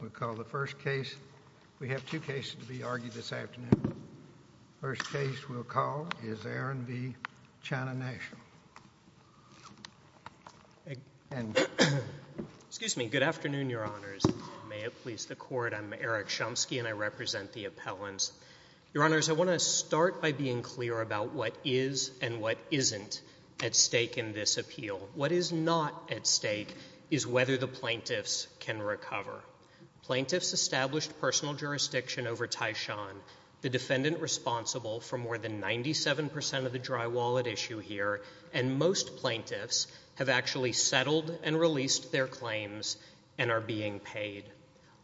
We'll call the first case. We have two cases to be argued this afternoon. First case we'll call is Aaron v. China National. Excuse me. Good afternoon, your honors. May it please the court, I'm Eric Shumsky and I represent the appellants. Your honors, I want to start by being clear about what is and what isn't at stake in this appeal. What is not at stake is whether the plaintiffs can recover. Plaintiffs established personal jurisdiction over Taishan, the defendant responsible for more than 97 percent of the dry wallet issue here, and most plaintiffs have actually settled and released their claims and are being paid.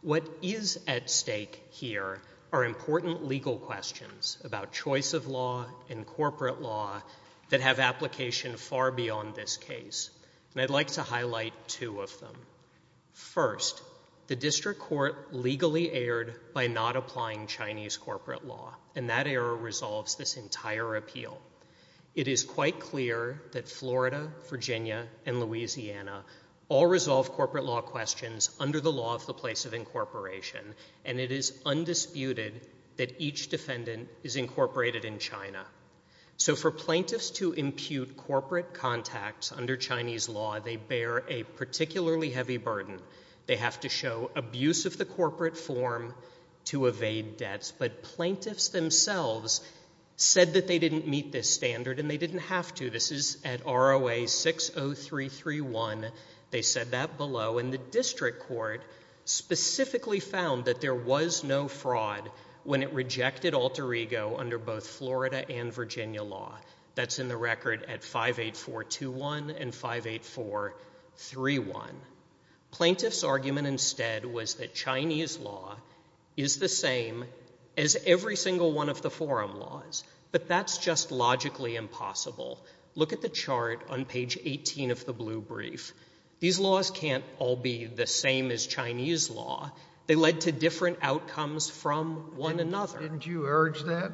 What is at stake here are important legal questions about choice of law and corporate law that have application far beyond this case, and I'd like to highlight two of them. First, the district court legally erred by not applying Chinese corporate law, and that error resolves this entire appeal. It is quite clear that Florida, Virginia, and Louisiana all resolve corporate law questions under the law of the place of incorporation, and it is undisputed that each defendant is incorporated in China. So for plaintiffs to impute corporate contacts under Chinese law, they bear a particularly heavy burden. They have to show abuse of the corporate form to evade debts, but plaintiffs themselves said that they didn't meet this standard, and they didn't have to. This is at ROA 60331. They said that below, and the district court specifically found that there was no fraud when it rejected alter ego under both Florida and Virginia law. That's in the Plaintiffs' argument instead was that Chinese law is the same as every single one of the forum laws, but that's just logically impossible. Look at the chart on page 18 of the blue brief. These laws can't all be the same as Chinese law. They led to different outcomes from one another. Didn't you urge that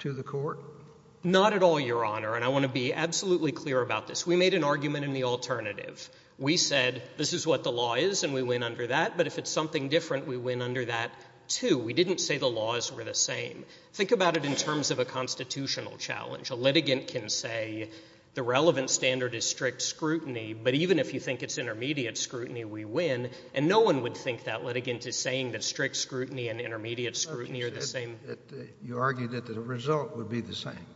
to the court? Not at all, Your Honor, and I want to be absolutely clear about this. We made an argument in the alternative. We said this is what the law is, and we went under that, but if it's something different, we went under that too. We didn't say the laws were the same. Think about it in terms of a constitutional challenge. A litigant can say the relevant standard is strict scrutiny, but even if you think it's intermediate scrutiny, we win, and no one would think that litigant is saying that strict scrutiny and intermediate scrutiny are the same. You argued that the result would be the same.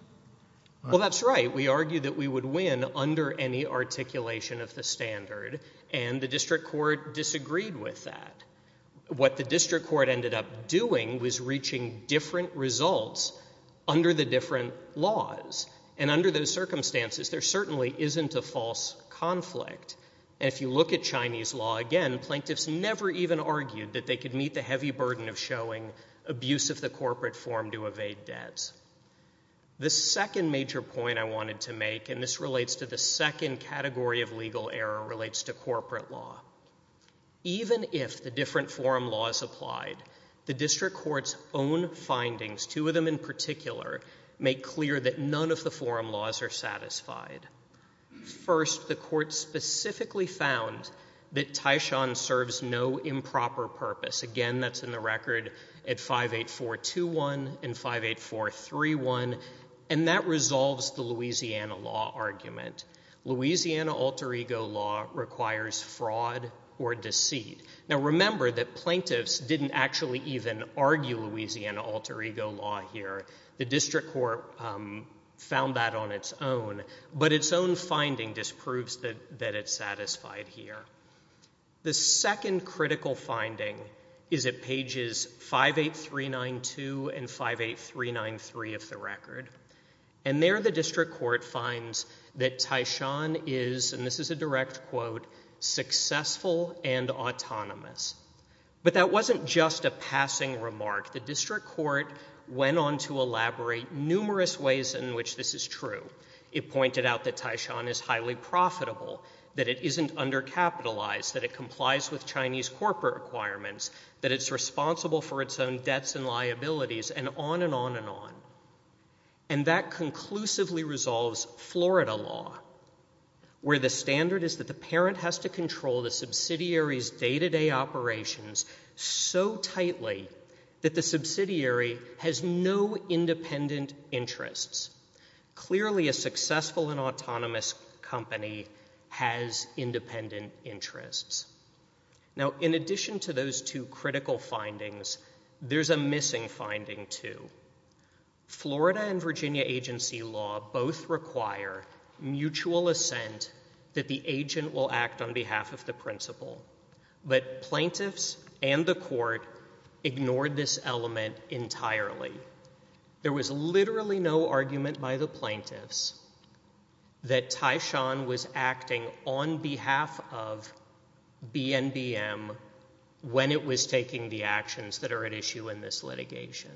Well, that's right. We argued that we would win under any articulation of the standard, and the district court disagreed with that. What the district court ended up doing was reaching different results under the different laws, and under those circumstances, there certainly isn't a false conflict, and if you look at Chinese law again, plaintiffs never even argued that they could meet the heavy burden of abuse of the corporate form to evade debts. The second major point I wanted to make, and this relates to the second category of legal error, relates to corporate law. Even if the different forum laws applied, the district court's own findings, two of them in particular, make clear that none of the forum laws are satisfied. First, the court specifically found that Taishan serves no improper purpose. Again, that's in the record at 58421 and 58431, and that resolves the Louisiana law argument. Louisiana alter ego law requires fraud or deceit. Now, remember that plaintiffs didn't actually even argue Louisiana alter ego law here. The district court found that on its own, but its own finding disproves that it's satisfied here. The second critical finding is at pages 58392 and 58393 of the record, and there the district court finds that Taishan is, and this is a direct quote, successful and autonomous, but that wasn't just a passing remark. The district court went on to elaborate numerous ways in which this is true. It pointed out that Taishan is highly profitable, that it isn't undercapitalized, that it complies with Chinese corporate requirements, that it's responsible for its own debts and liabilities, and on and on and on. And that conclusively resolves Florida law, where the standard is that the parent has to control the subsidiary, has no independent interests. Clearly a successful and autonomous company has independent interests. Now, in addition to those two critical findings, there's a missing finding too. Florida and Virginia agency law both require mutual assent that the agent will act on entirely. There was literally no argument by the plaintiffs that Taishan was acting on behalf of BNBM when it was taking the actions that are at issue in this litigation.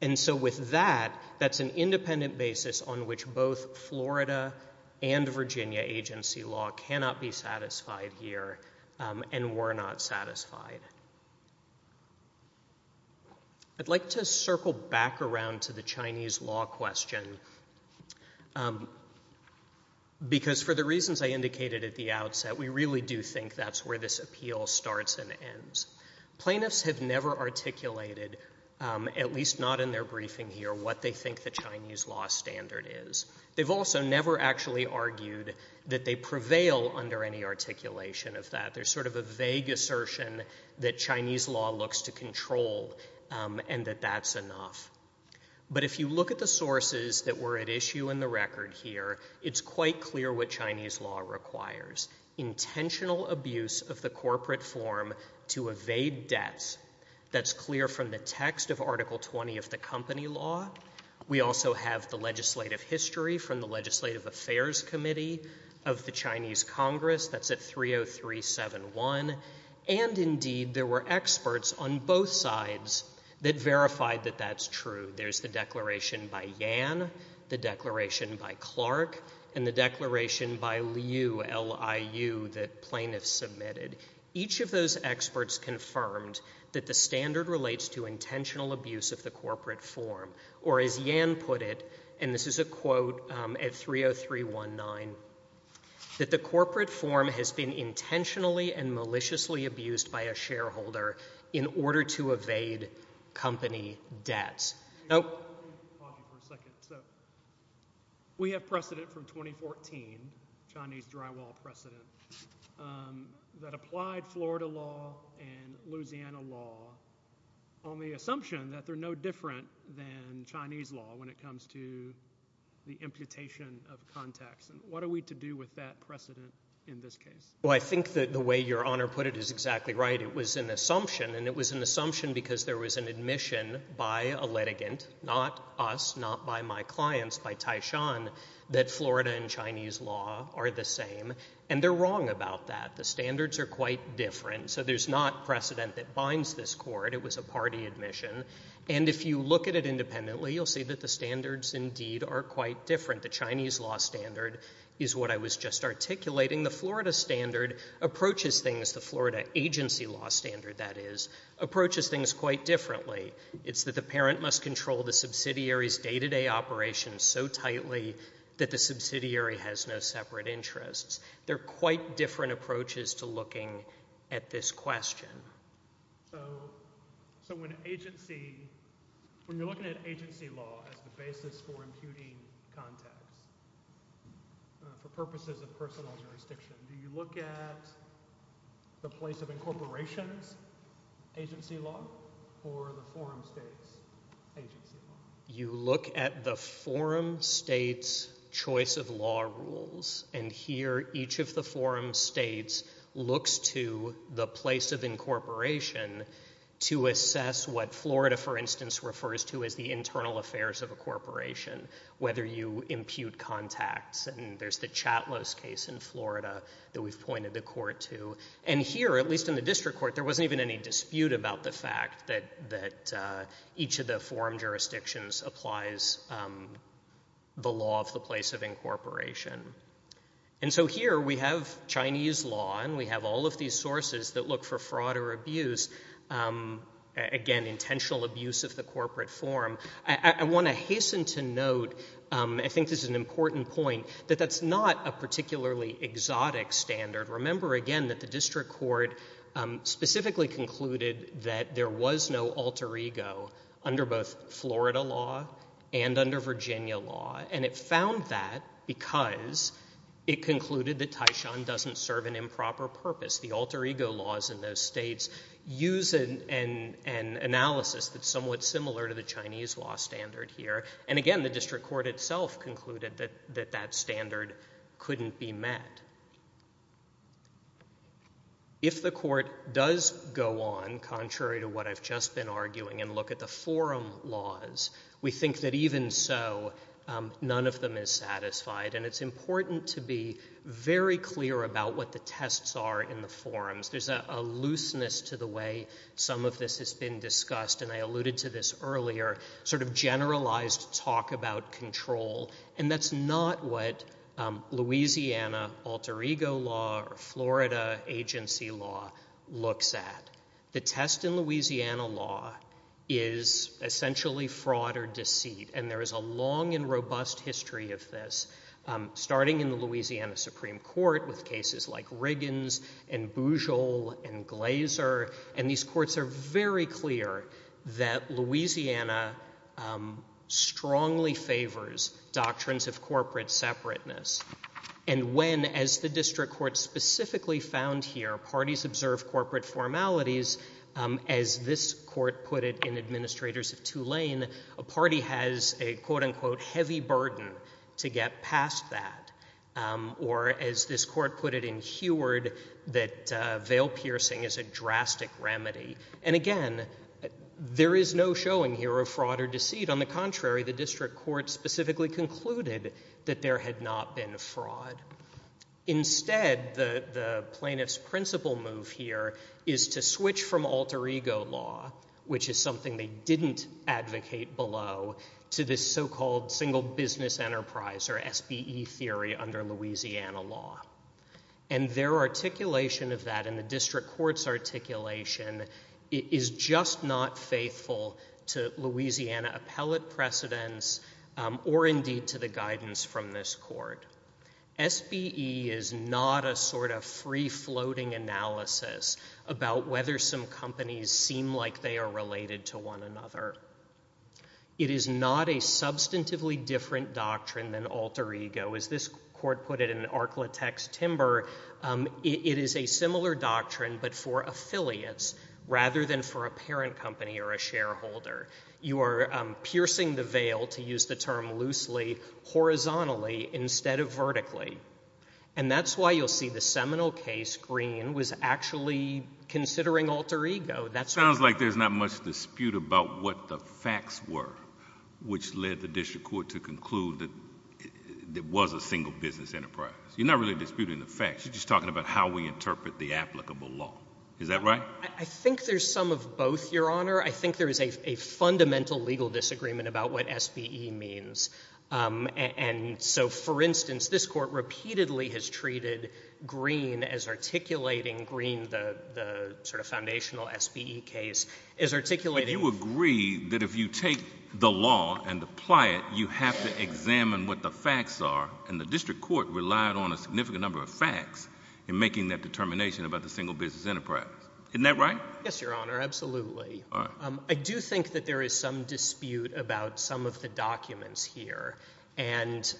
And so with that, that's an independent basis on which both Florida and Virginia agency law cannot be satisfied here and were not satisfied. I'd like to circle back around to the Chinese law question because for the reasons I indicated at the outset, we really do think that's where this appeal starts and ends. Plaintiffs have never articulated, at least not in their briefing here, what they think the Chinese law standard is. They've also never actually argued that they prevail under any vague assertion that Chinese law looks to control and that that's enough. But if you look at the sources that were at issue in the record here, it's quite clear what Chinese law requires. Intentional abuse of the corporate form to evade debts. That's clear from the text of Article 20 of the company law. We also have the legislative history from the Legislative Affairs Committee of the Chinese Congress. That's at 30371. And indeed, there were experts on both sides that verified that that's true. There's the declaration by Yan, the declaration by Clark, and the declaration by Liu that plaintiffs submitted. Each of those experts confirmed that the standard relates to intentional abuse of the corporate form. Or as Yan put it, and this is a quote at 30319, that the corporate form has been intentionally and maliciously abused by a shareholder in order to evade company debts. We have precedent from 2014, Chinese drywall precedent, that applied Florida law and Louisiana law on the assumption that they're no different than Chinese law when it comes to the imputation of contacts. And what are we to do with that precedent in this case? Well, I think that the way Your Honor put it is exactly right. It was an assumption. And it was an assumption because there was an admission by a litigant, not us, not by my clients, by Taishan, that Florida and Chinese law are the same. And they're wrong about that. The standards are quite different. So there's not precedent that binds this court. It was a party admission. And if you look at it independently, you'll see that the standards indeed are quite different. The Chinese law standard is what I was just articulating. The Florida standard approaches things, the Florida agency law standard, that is, approaches things quite differently. It's that the parent must control the subsidiary's day-to-day operations so tightly that the subsidiary has no separate interests. They're quite different approaches to looking at this question. So when you're looking at agency law as the basis for imputing contacts for purposes of personal jurisdiction, do you look at the place of incorporations agency law or the forum state's agency law? You look at the forum state's choice of law rules. And here, each of the forum states looks to the place of incorporation to assess what Florida, for instance, refers to as the internal affairs of a corporation, whether you impute contacts. And there's the Chatlos case in Florida that we've pointed the court to. And here, at least in the district court, there wasn't even any dispute about the fact that each of the forum jurisdictions applies the law of the place of incorporation. And so here, we have Chinese law, and we have all of these sources that look for fraud or abuse, again, intentional abuse of the corporate forum. I want to hasten to note, I think this is an important point, that that's not a particularly exotic standard. Remember, again, that the district court specifically concluded that there was no alter ego under both Florida law and under Virginia law. And it found that because it concluded that Taishan doesn't serve an improper purpose. The alter ego laws in those states use an analysis that's somewhat similar to the Chinese law standard here. And again, the district court itself concluded that that standard couldn't be met. If the court does go on, contrary to what I've just been arguing, and look at the forum laws, we think that even so, none of them is satisfied. And it's important to be very clear about what the tests are in the forums. There's a looseness to the way some of this has been discussed, and I alluded to this earlier, sort of generalized talk about control. And that's not what Louisiana alter ego law or Florida agency law looks at. The test in Louisiana law is essentially fraud or deceit. And there is a long and robust history of this, starting in the Louisiana Supreme Court with cases like Riggins and Bujold and Glaser. And these courts are very clear that Louisiana strongly favors doctrines of corporate separateness. And when, as the district court specifically found here, parties observe corporate formalities, as this court put it in Administrators of Tulane, a party has a, quote, unquote, heavy burden to get past that. Or as this court put it in Heward, that veil piercing is a drastic remedy. And again, there is no showing here of fraud or deceit. On the contrary, the district court specifically concluded that there had not been fraud. Instead, the plaintiff's principle move here is to switch from alter ego law, which is something they didn't advocate below, to this so-called single business enterprise or SBE theory under Louisiana law. And their articulation of that in the district court's articulation is just not faithful to Louisiana appellate precedents or indeed to the guidance from this court. SBE is not a sort of free-floating analysis about whether some companies seem like they are related to one another. It is not a substantively different doctrine than alter ego. As this court put it in Ark-La-Tex Timber, it is a similar doctrine, but for affiliates rather than for a parent company or a shareholder. You are piercing the veil, to use the term loosely, horizontally instead of vertically. And that's why you'll see the Seminole case, Green, was actually considering alter ego. That's why. Sounds like there's not much dispute about what the facts were which led the district court to conclude that it was a single business enterprise. You're not really disputing the facts. You're just talking about how we interpret the applicable law. Is that right? I think there's some of both, Your Honor. I think there is a fundamental legal disagreement about what SBE means. And so, for instance, this court repeatedly has treated Green as articulating Green, the sort of foundational SBE case, as articulating— But you agree that if you take the law and apply it, you have to examine what the facts are, and the district court relied on a significant number of facts in making that determination about the single business enterprise. Isn't that right? Yes, Your Honor. Absolutely. All right. I do think that there is some dispute about some of the documents here. And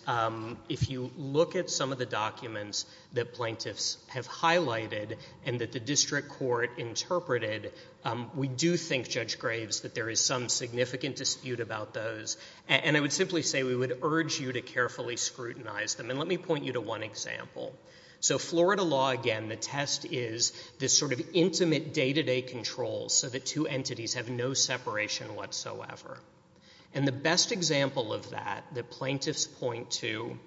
if you look at some of the documents that plaintiffs have highlighted and that the district court interpreted, we do think, Judge Graves, that there is some significant dispute about those. And I would simply say we would urge you to carefully scrutinize them. And let me point you to one that is this sort of intimate day-to-day control so that two entities have no separation whatsoever. And the best example of that that plaintiffs point to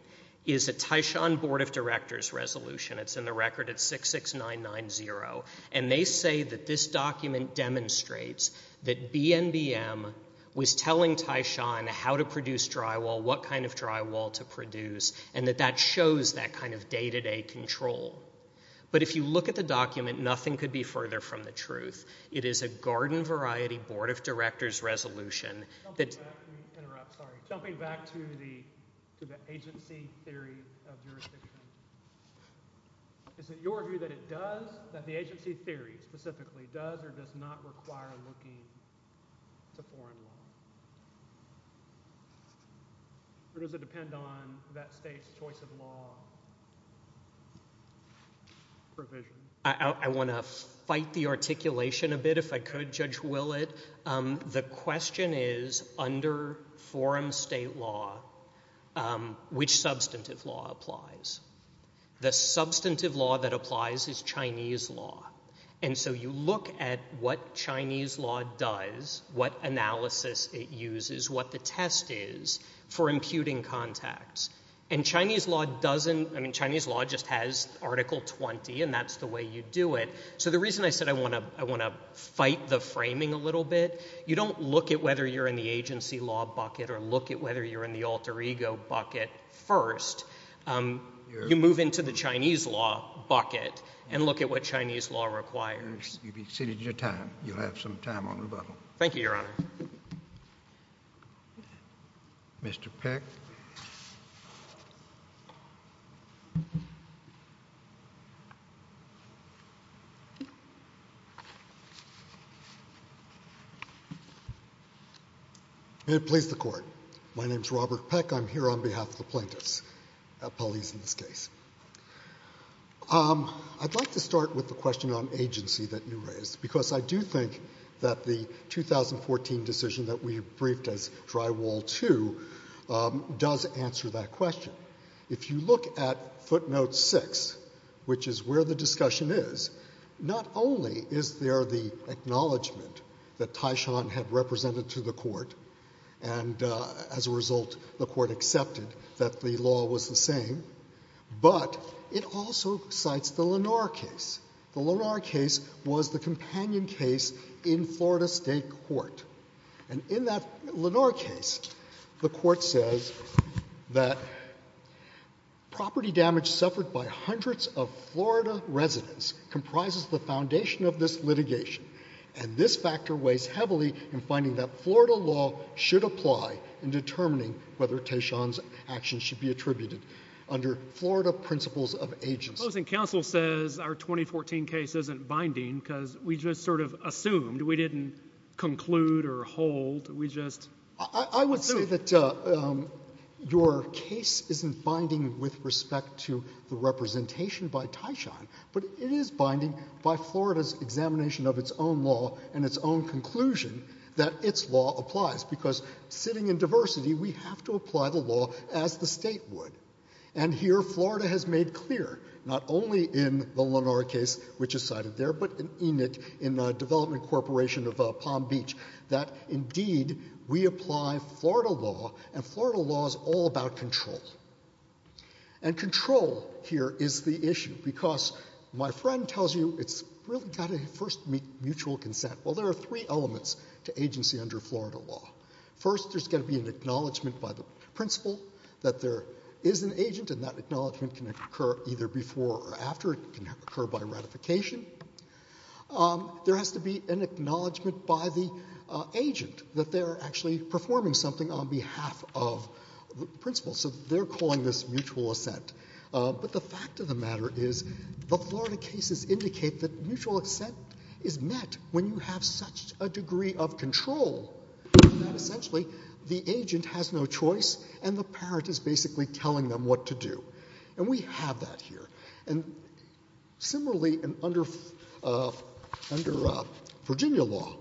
is a Tyshawn Board of Directors resolution. It's in the record. It's 66990. And they say that this document demonstrates that BNBM was telling Tyshawn how to produce drywall, what kind of drywall to produce, and that that shows that kind of day-to-day control. But if you look at the document, nothing could be further from the truth. It is a garden-variety Board of Directors resolution that's... Jumping back to the agency theory of jurisdiction, is it your view that it does, that the agency theory specifically does or does not require looking to foreign law? Or does it depend on that state's choice of law provision? I want to fight the articulation a bit, if I could, Judge Willett. The question is, under foreign state law, which substantive law applies? The substantive law that applies is Chinese law. And so you look at what Chinese law does, what analysis it uses, what the test is for procuring contacts. And Chinese law doesn't, I mean, Chinese law just has Article 20, and that's the way you do it. So the reason I said I want to fight the framing a little bit, you don't look at whether you're in the agency law bucket or look at whether you're in the alter ego bucket first. You move into the Chinese law bucket and look at what Chinese law requires. You've exceeded your time. You'll have some time on rebuttal. Thank you, Your Honor. Mr. Peck. May it please the Court. My name is Robert Peck. I'm here on behalf of the plaintiffs, police in this case. I'd like to start with the question on agency that you raised, because I do think that the 2014 decision that we briefed as drywall 2 does answer that question. If you look at footnote 6, which is where the discussion is, not only is there the acknowledgment that Taishan had represented to the Court, and as a result the Court accepted that the Florida State Court. And in that Lenore case, the Court says that property damage suffered by hundreds of Florida residents comprises the foundation of this litigation, and this factor weighs heavily in finding that Florida law should apply in determining whether Taishan's actions should be attributed under Florida principles of agency. The opposing counsel says our 2014 case isn't binding, because we just sort of assumed. We didn't conclude or hold. We just assumed. I would say that your case isn't binding with respect to the representation by Taishan, but it is binding by Florida's examination of its own law and its own conclusion that its law applies, because sitting in diversity, we have to apply the law as the state would. And here, Florida has made clear, not only in the Lenore case, which is cited there, but in ENIT, in Development Corporation of Palm Beach, that indeed we apply Florida law, and Florida law is all about control. And control here is the issue, because my friend tells you it's really got to first meet mutual consent. Well, there are three elements to agency under Florida law. First, there's got to be an acknowledgment by the principal that there is an agent, and that acknowledgment can occur either before or after. It can occur by ratification. There has to be an acknowledgment by the agent that they're actually performing something on behalf of the principal. So they're calling this mutual assent. But the fact of the matter is the Florida cases indicate that mutual assent is met when you have such a degree of control that essentially the agent has no choice, and the parent is basically telling them what to do. And we have that here. And similarly, under Virginia law,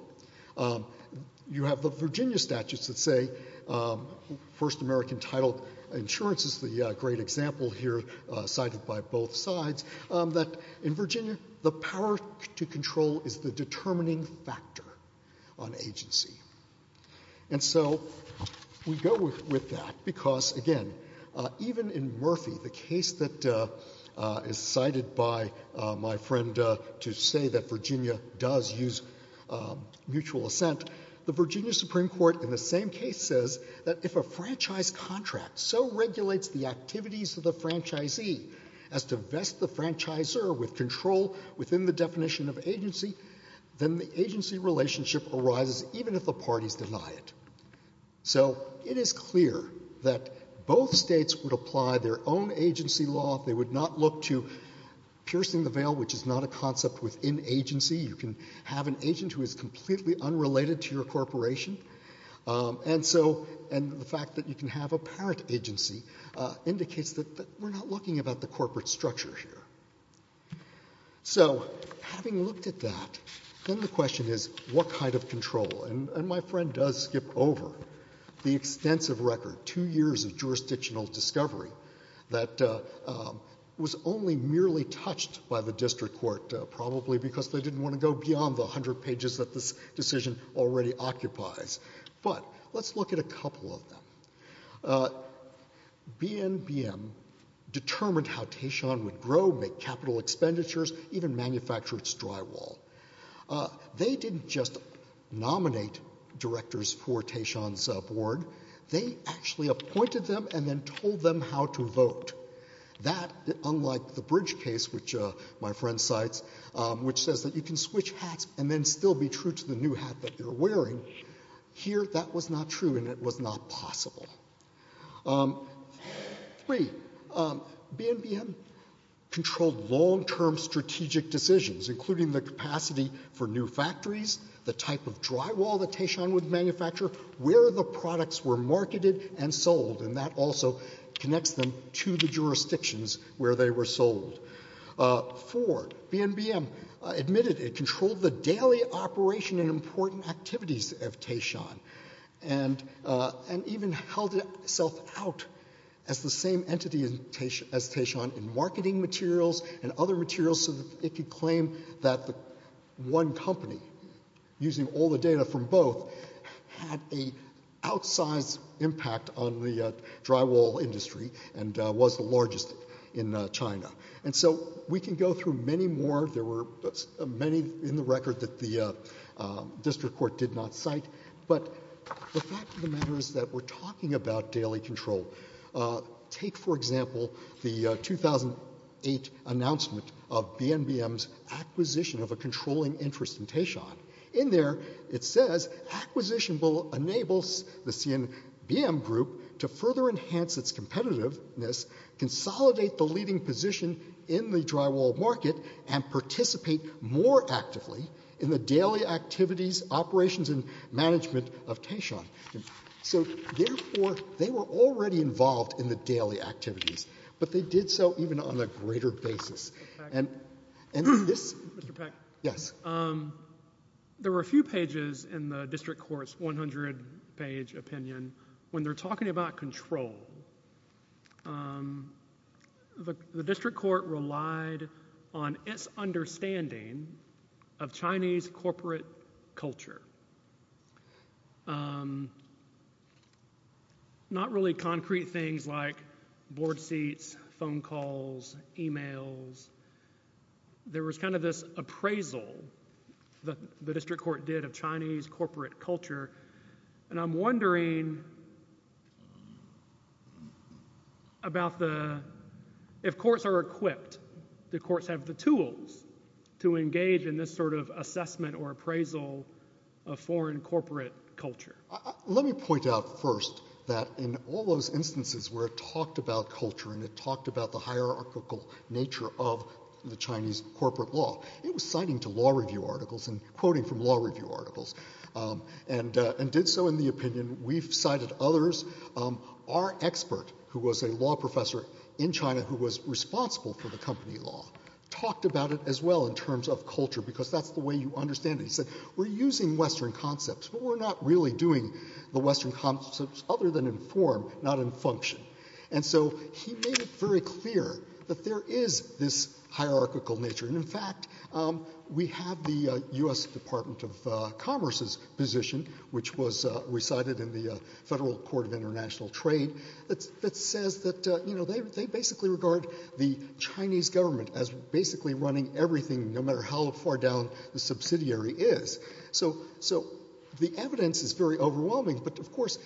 you have the Virginia statutes that say, First American title insurance is the great example here cited by both sides, that in Virginia, the power to control is the determining factor on agency. And so we go with that, because, again, even in Murphy, the case that is cited by my friend to say that Virginia does use mutual assent, the Virginia Supreme Court in the same case says that if a franchise contract so regulates the activities of the franchisee as to vest the franchisor with control within the definition of agency, then the agency relationship arises even if the parties deny it. So it is clear that both states would apply their own agency law. They would not look to piercing the veil, which is not a concept within agency. You can have an agent who is completely unrelated to your corporation. And so the fact that you can have a parent agency indicates that we're not looking about the corporate structure here. So having looked at that, then the question is, what kind of control? And my friend does skip over the extensive record, two years of jurisdictional discovery that was only merely touched by the district court, probably because they didn't want to go beyond the district court. But BNBM determined how Tayshaun would grow, make capital expenditures, even manufacture its drywall. They didn't just nominate directors for Tayshaun's board. They actually appointed them and then told them how to vote. That, unlike the Bridge case, which my friend cites, which says that you can switch hats and then still be true to the new hat that you're wearing, here that was not true and it was not possible. Three, BNBM controlled long-term strategic decisions, including the capacity for new factories, the type of drywall that Tayshaun would manufacture, where the products were marketed and sold. And that also connects them to the jurisdictions where they were sold. Ford, BNBM, admitted it controlled the daily operation and important activities of Tayshaun and even held itself out as the same entity as Tayshaun in marketing materials and other materials so that it could claim that one company, using all the data from both, had a outsized impact on the drywall industry and was the largest in China. And so we can go through many more. There were many in the record that the district court did not cite. But the fact of the matter is that we're talking about daily control. Take for example the 2008 announcement of BNBM's acquisition of a controlling interest in Tayshaun. In there, it says, acquisition will enable the CNBM group to further enhance its competitiveness, consolidate the leading position in the drywall market, and participate more actively in the daily activities, operations, and management of Tayshaun. So therefore, they were already involved in the daily activities. But they did so even on a greater basis. There were a few pages in the district court's 100-page opinion when they're talking about control. The district court relied on its understanding of Chinese corporate culture. Not really concrete things like board seats, phone calls, emails. There was kind of this appraisal the district court did of Chinese corporate culture. And I'm wondering, what do you think about the, if courts are equipped, do courts have the tools to engage in this sort of assessment or appraisal of foreign corporate culture? Let me point out first that in all those instances where it talked about culture and it talked about the hierarchical nature of the Chinese corporate law, it was citing to law review our expert, who was a law professor in China who was responsible for the company law, talked about it as well in terms of culture because that's the way you understand it. He said, we're using Western concepts, but we're not really doing the Western concepts other than in form, not in function. And so he made it very clear that there is this hierarchical nature. And in fact, we have the US Department of Commerce's position, which was recited in the Federal Court of International Trade, that says that they basically regard the Chinese government as basically running everything, no matter how far down the subsidiary is. So the evidence is very overwhelming. But of course,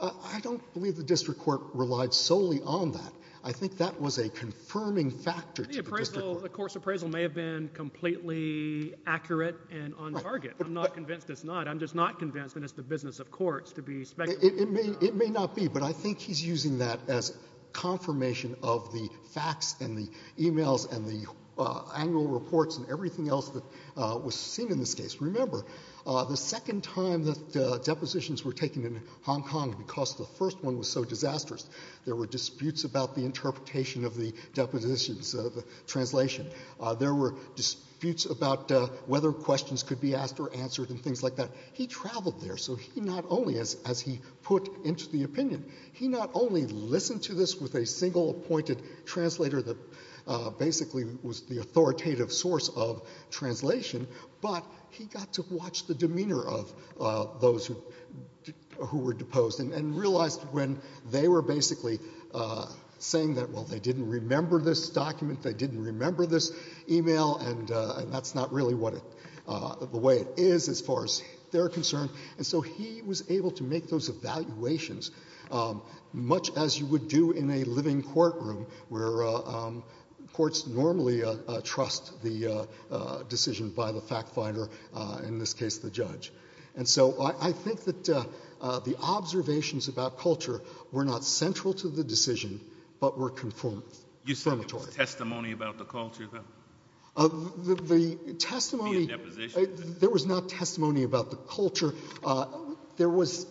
I don't believe the district court relied solely on that. I think that was a confirming factor to the district court. The court's appraisal may have been completely accurate and on target. I'm not convinced that it's the business of courts to be speculating. It may not be, but I think he's using that as confirmation of the facts and the emails and the annual reports and everything else that was seen in this case. Remember, the second time that depositions were taken in Hong Kong, because the first one was so disastrous, there were disputes about the interpretation of the depositions, the translation. There were disputes about whether questions could be asked or answered and things like that. He traveled there, so he not only, as he put into the opinion, he not only listened to this with a single appointed translator that basically was the authoritative source of translation, but he got to watch the demeanor of those who were deposed and realized when they were basically saying that, well, they didn't remember this document, they didn't know what their concern, and so he was able to make those evaluations, much as you would do in a living courtroom where courts normally trust the decision by the fact finder, in this case the judge. And so I think that the observations about culture were not central to the decision, but were confirmatory. You said there was testimony about the culture, though? The testimony... Via deposition. There was not testimony about the culture. There was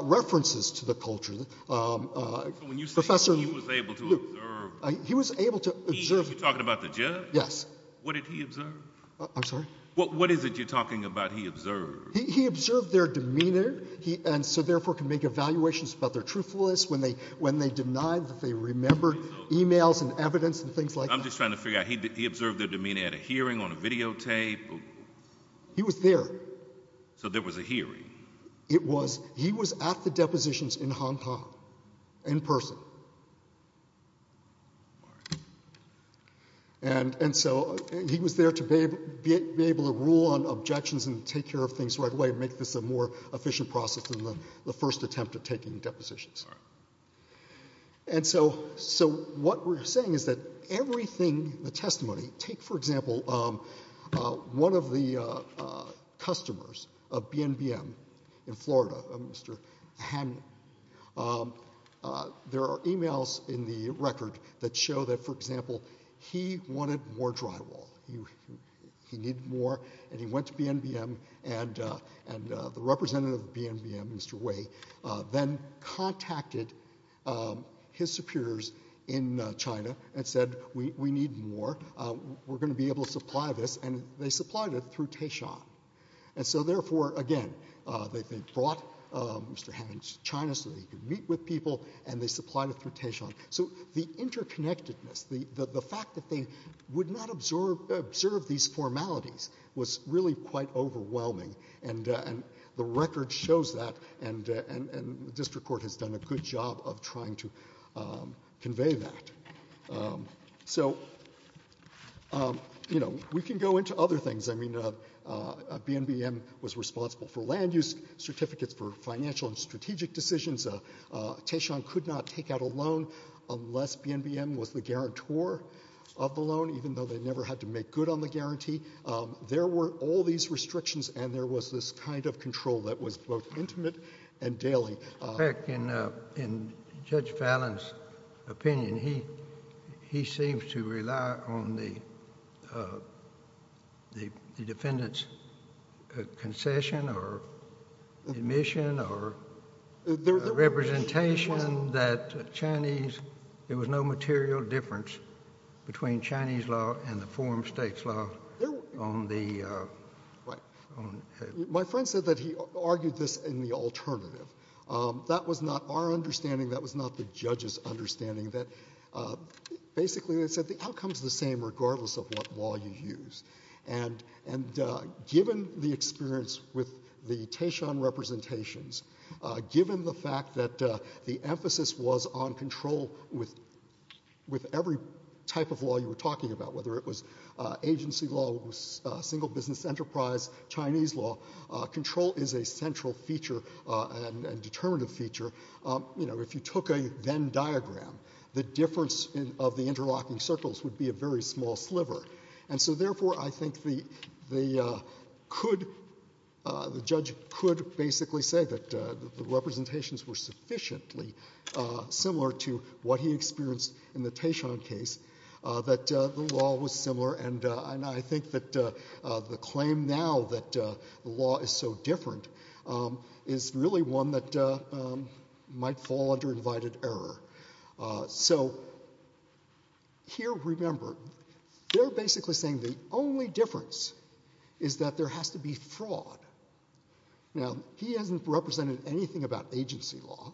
references to the culture. So when you say he was able to observe... He was able to observe... You're talking about the judge? Yes. What did he observe? I'm sorry? What is it you're talking about he observed? He observed their demeanor, and so therefore could make evaluations about their truthfulness when they denied that they remembered emails and evidence and things like that. I'm just trying to figure out, he observed their demeanor at a hearing, on a videotape? He was there. So there was a hearing? It was. He was at the depositions in Hong Kong, in person. And so he was there to be able to rule on objections and take care of things right away and make this a more efficient process than the first attempt at taking depositions. And so what we're saying is that everything the testimony... Take for example one of the customers of BNBM in Florida, Mr. Han. There are emails in the record that show that, for example, he wanted more drywall. He needed more, and he went to BNBM, and the representative of BNBM, Mr. Wei, then contacted his superiors in China and said, we need more. We're going to be able to supply this, and they supplied it through Taishan. And so therefore, again, they brought Mr. Han to China so that he could meet with people, and they supplied it through Taishan. So the interconnectedness, the fact that they would not observe these formalities was really quite overwhelming, and the record shows that, and the district court has done a good job of trying to convey that. So we can go into other things. BNBM was responsible for land use, certificates for financial and strategic decisions. Taishan could not take out a loan unless BNBM was the guarantor of the loan, even though they never had to make good on the guarantee. There were all these things that were in the control that was both intimate and daily. In Judge Fallon's opinion, he seems to rely on the defendant's concession or admission or representation that Chinese, there was no material difference between Chinese law and the foreign states' law. My friend said that he argued this in the alternative. That was not our understanding. That was not the judge's understanding. Basically, they said the outcome is the same regardless of what law you use. And given the experience with the Taishan representations, given the fact that the emphasis was on control with every type of law you were talking about, whether it was agency law, single business enterprise, Chinese law, control is a central feature and determinative feature. If you took a Venn diagram, the difference of the interlocking circles would be a very small sliver. And so therefore, I think the judge could basically say that the representations were sufficiently similar to what he experienced in the Taishan case, that the law was similar and I think that the claim now that the law is so different is really one that might fall under invited error. So here, remember, they're basically saying the only difference is that there has to be agency law,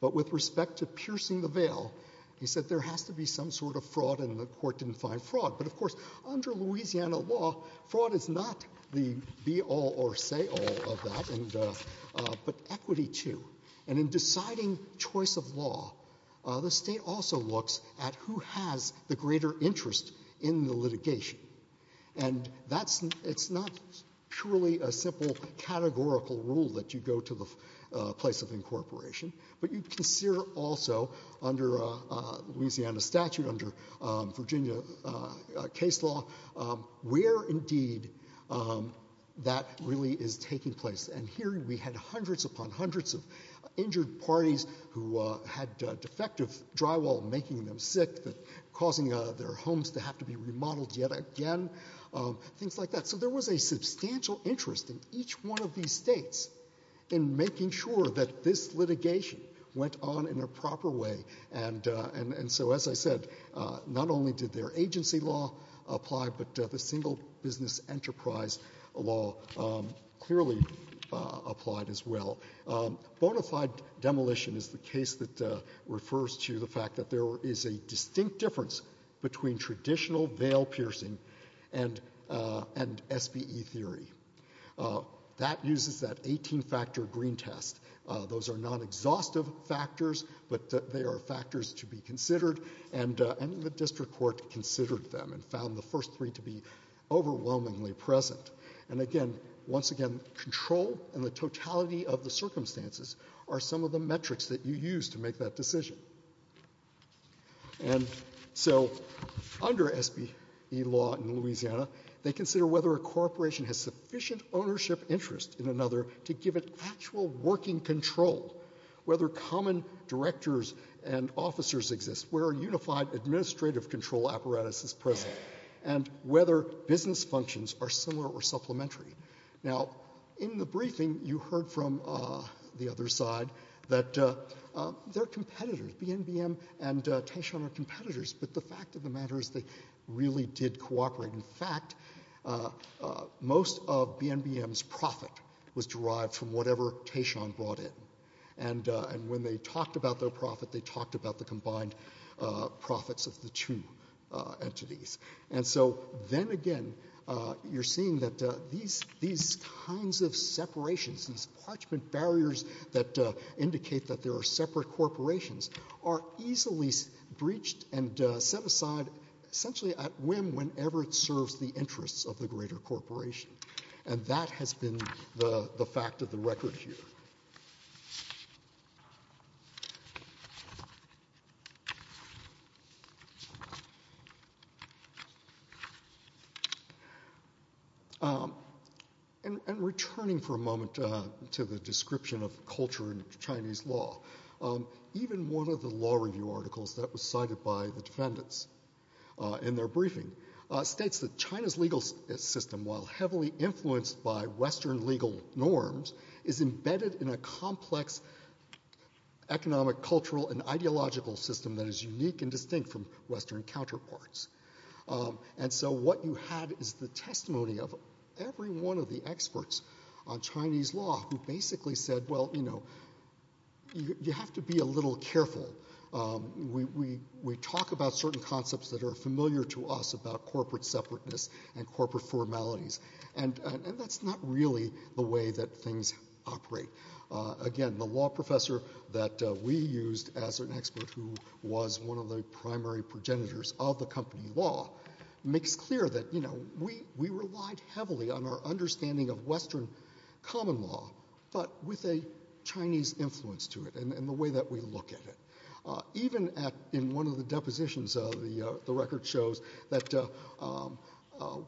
but with respect to piercing the veil, he said there has to be some sort of fraud and the court didn't find fraud. But of course, under Louisiana law, fraud is not the be all or say all of that, but equity too. And in deciding choice of law, the state also looks at who has the greater interest in the litigation. And that's not purely a simple categorical rule that you go to the place of incorporation, but you consider also under Louisiana statute, under Virginia case law, where indeed that really is taking place. And here we had hundreds upon hundreds of injured parties who had defective drywall making them sick, causing their homes to have to be remodeled yet again, things like that. So there was a substantial interest in each one of these states in making sure that this litigation went on in a proper way. And so as I said, not only did their agency law apply, but the single business enterprise law clearly applied as well. Bonafide demolition is the case that refers to the fact that there is a distinct difference between traditional veil piercing and SBE theory. That uses that 18-factor green test. Those are non-exhaustive factors, but they are factors to be considered, and the district court considered them and found the first three to be overwhelmingly present. And again, once again, control and the totality of the circumstances are some of the metrics that you use to make that decision. And so under SBE law in Louisiana, they consider whether a corporation has sufficient ownership interest in another to give it actual working control, whether common directors and officers exist, where a unified administrative control apparatus is present, and whether business functions are similar or supplementary. Now, in the briefing, you heard from the other side that they're competitors. BNBM and Taishan are competitors, but the fact of the matter is they really did cooperate. In fact, most of BNBM's profit was derived from whatever Taishan brought in. And when they talked about their profit, they talked about the combined profits of the two entities. And so then again, you're seeing that these kinds of separations, these parchment barriers that indicate that there are separate corporations, are easily breached and set aside essentially at whim whenever it serves the interests of the greater corporation. And that has been the fact of the record here. And returning for a moment to the description of culture in Chinese law, even one of the law review articles that was cited by the defendants in their briefing states that China's legal system, while heavily influenced by Western legal norms, is embedded in a complex economic, cultural, and ideological system that is unique and distinct from Western counterparts. And so what you had is the testimony of every one of the experts on Chinese law who basically said, well, you know, you have to be a little careful. We talk about certain concepts that are familiar to us about corporate separateness and corporate formalities. And that's not really the way that things operate. Again, the law professor that we used as an expert who was one of the primary progenitors of the company law makes clear that, you know, we relied heavily on our understanding of Western common law, but with a Chinese influence to it and the way that we look at it. Even in one of the depositions, the record shows that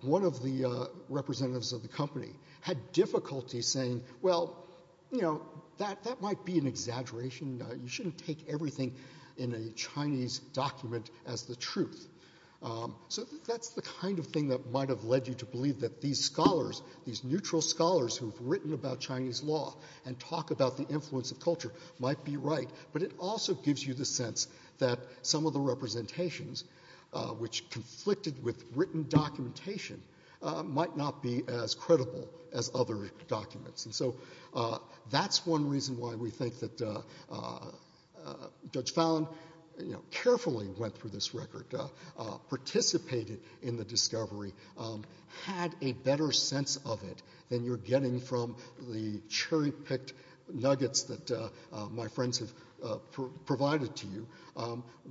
one of the representatives of the company had difficulty saying, well, you know, that might be an exaggeration. You shouldn't take everything in a Chinese document as the truth. So that's the kind of thing that might have led you to believe that these scholars, these neutral scholars who've written about Chinese law and talk about the influence of culture might be right. But it also gives you the sense that some of the representations, which conflicted with written documentation, might not be as credible as other documents. And so that's one reason why we think that Judge Fallon, you know, carefully went through this record, participated in the discovery, had a better sense of it than you're getting from the cherry-picked nuggets that my friends have provided to you,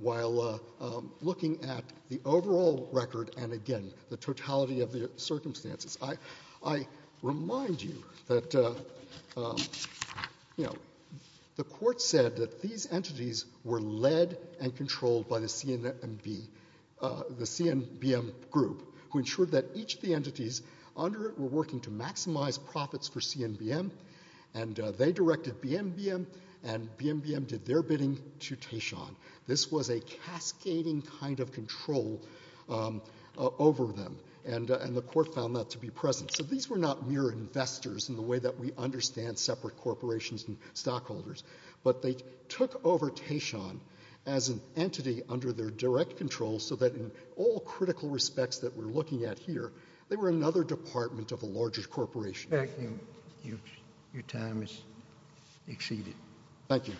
while looking at the overall record and again the totality of the circumstances. I remind you that, you know, the court said that these entities were led and controlled by the CNBM group, who ensured that each of the entities under it were working to maximize profits for CNBM. And they directed BNBM, and BNBM did their bidding to Taishan. This was a cascading kind of control over them, and the court found that to be present. So these were not mere investors in the way that we understand separate corporations and stockholders. But they took over Taishan as an entity under their direct control so that in all critical respects that we're looking at here, they were another department of a larger corporation. Thank you. Your time has exceeded. Thank you.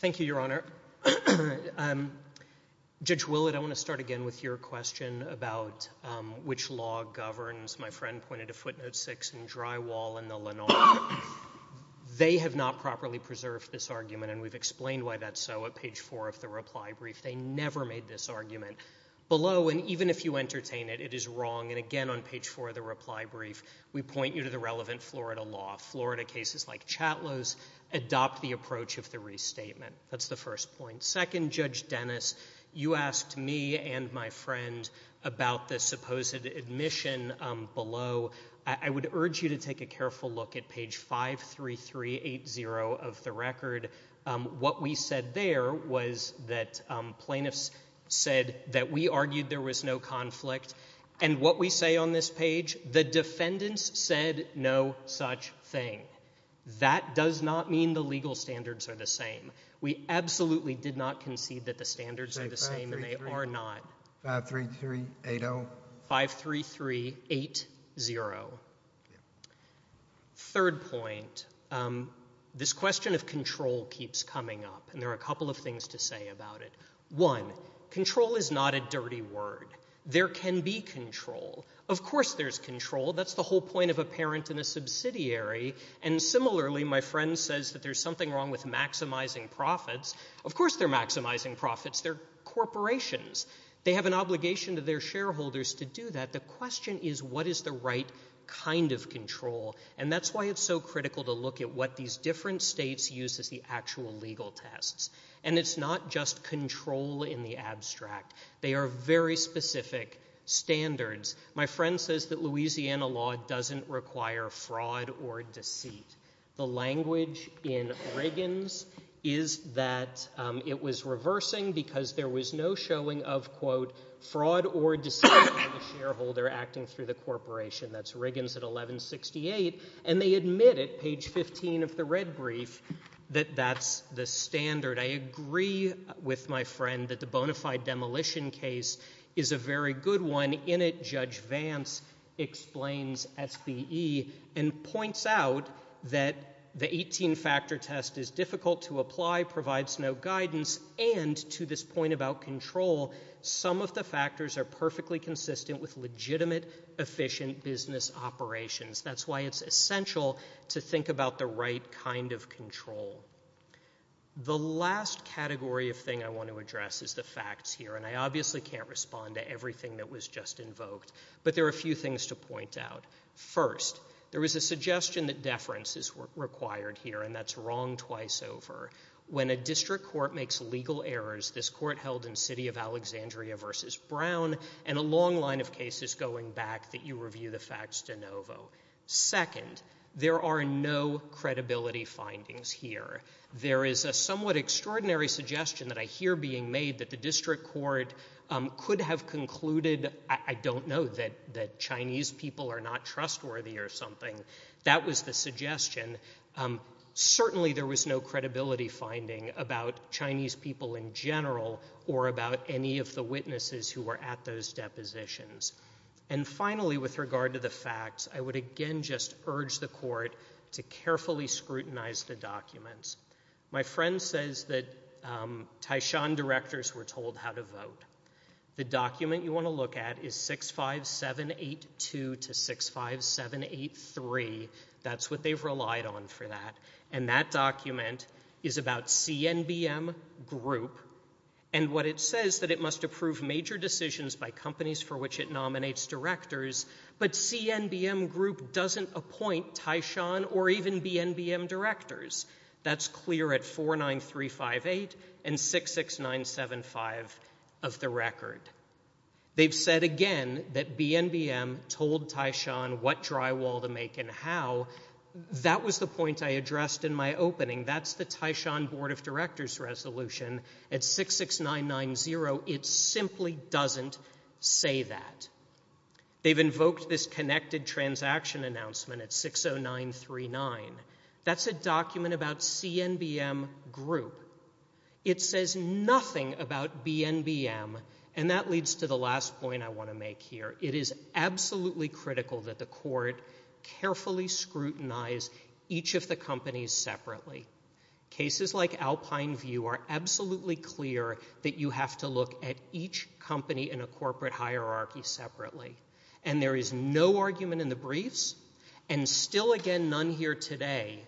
Thank you, Your Honor. Judge Willett, I want to start again with your question about which law governs. My friend pointed to footnote 6 in Drywall and the Lenar. They have not properly preserved this argument, and we've explained why that's so at page 4 of the reply brief. They never made this argument. Below, and even if you entertain it, it is wrong. And again on page 4 of the reply brief, we point you to the relevant Florida law. Florida cases like Chatlow's adopt the approach of the restatement. That's the first point. Second, Judge Dennis, you asked me and my friend about the supposed admission below. I would urge you to take a careful look at page 53380 of the record. What we said there was that plaintiffs said that we argued there was no conflict. And what we say on this page, the defendants said no such thing. That does not mean the legal standards are the same. We absolutely did not concede that the standards are the same, and they are not. 53380. 53380. Third point, this question of control keeps coming up, and there are a couple of things to say about it. One, control is not a dirty word. There can be control. Of course there's control. That's the whole point of a parent in a subsidiary. And similarly, my friend says that there's something wrong with maximizing profits. Of course they're maximizing profits. They're corporations. They have an obligation to their shareholders to do that. The question is what is the right kind of control? And that's why it's so critical to look at what these different states use as the actual legal tests. And it's not just control in the abstract. They are very specific standards. My friend says that Louisiana law doesn't require fraud or deceit. The language in Riggins is that it was reversing because there was no showing of, quote, fraud or deceit by the shareholder acting through the corporation. That's Riggins at 1168, and they admit it, page 15 of the red brief, that that's the standard. I agree with my friend that the bona fide demolition case is a very good one. In it, Judge Vance explains SBE and points out that the 18-factor test is difficult to apply, provides no guidance, and to this point about control, some of the factors are perfectly consistent with legitimate efficient business operations. That's why it's essential to think about the right kind of control. The last category of thing I want to address is the facts here, and I obviously can't respond to everything that was just invoked, but there are a few things to point out. First, there was a suggestion that deference is required here, and that's wrong twice over. When a district court makes legal errors, this court held in City of Alexandria v. Brown, and a long line of cases going back that you review the facts de novo. Second, there are no credibility findings here. There is a somewhat extraordinary suggestion that I hear being made that the district court could have concluded, I don't know, that Chinese people are not trustworthy or something. That was the suggestion. Certainly there was no credibility finding about Chinese people in general or about any of the witnesses who were at those depositions. And finally, with regard to the facts, I would again just urge the court to carefully scrutinize the documents. My friend says that Taishan directors were told how to vote. The document you want to look at is 65782 to 65783. That's what they've relied on for that, and that document is about CNBM Group, and what it says that it must approve major decisions by companies for which it nominates directors, but CNBM Group doesn't appoint Taishan or even BNBM directors. That's clear at 49358 and 66975 of the record. They've said again that BNBM told Taishan what drywall to make and how. That was the point I addressed in my opening. That's the Taishan Board of Directors resolution at 66990. It simply doesn't say that. They've invoked this connected transaction announcement at 60939. That's a document about CNBM Group. It says nothing about BNBM, and that leads to the last point I want to make here. It is absolutely critical that the court carefully scrutinize each of the companies separately. Cases like Alpine View are absolutely clear that you have to look at each company in a corporate hierarchy separately, and there is no argument in the briefs and still again none here today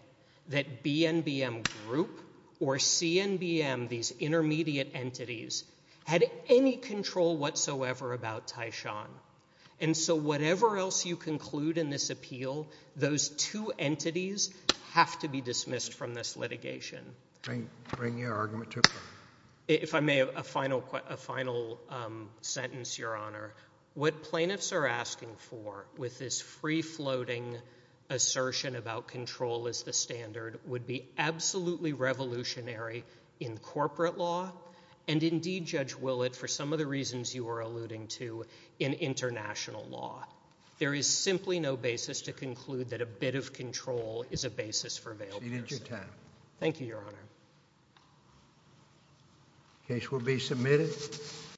that BNBM Group or CNBM, these intermediate entities, had any control whatsoever about Taishan, and so whatever else you conclude in this appeal, those two entities have to be dismissed from this litigation. Bring your argument to a close. If I may, a final sentence, Your Honor. What plaintiffs are asking for with this free-floating assertion about control as the standard would be absolutely revolutionary in corporate law, and indeed, Judge Willett, for some of the reasons you were alluding to, in international law. There is simply no basis to conclude that a bit of control is a basis for availability. Thank you, Your Honor.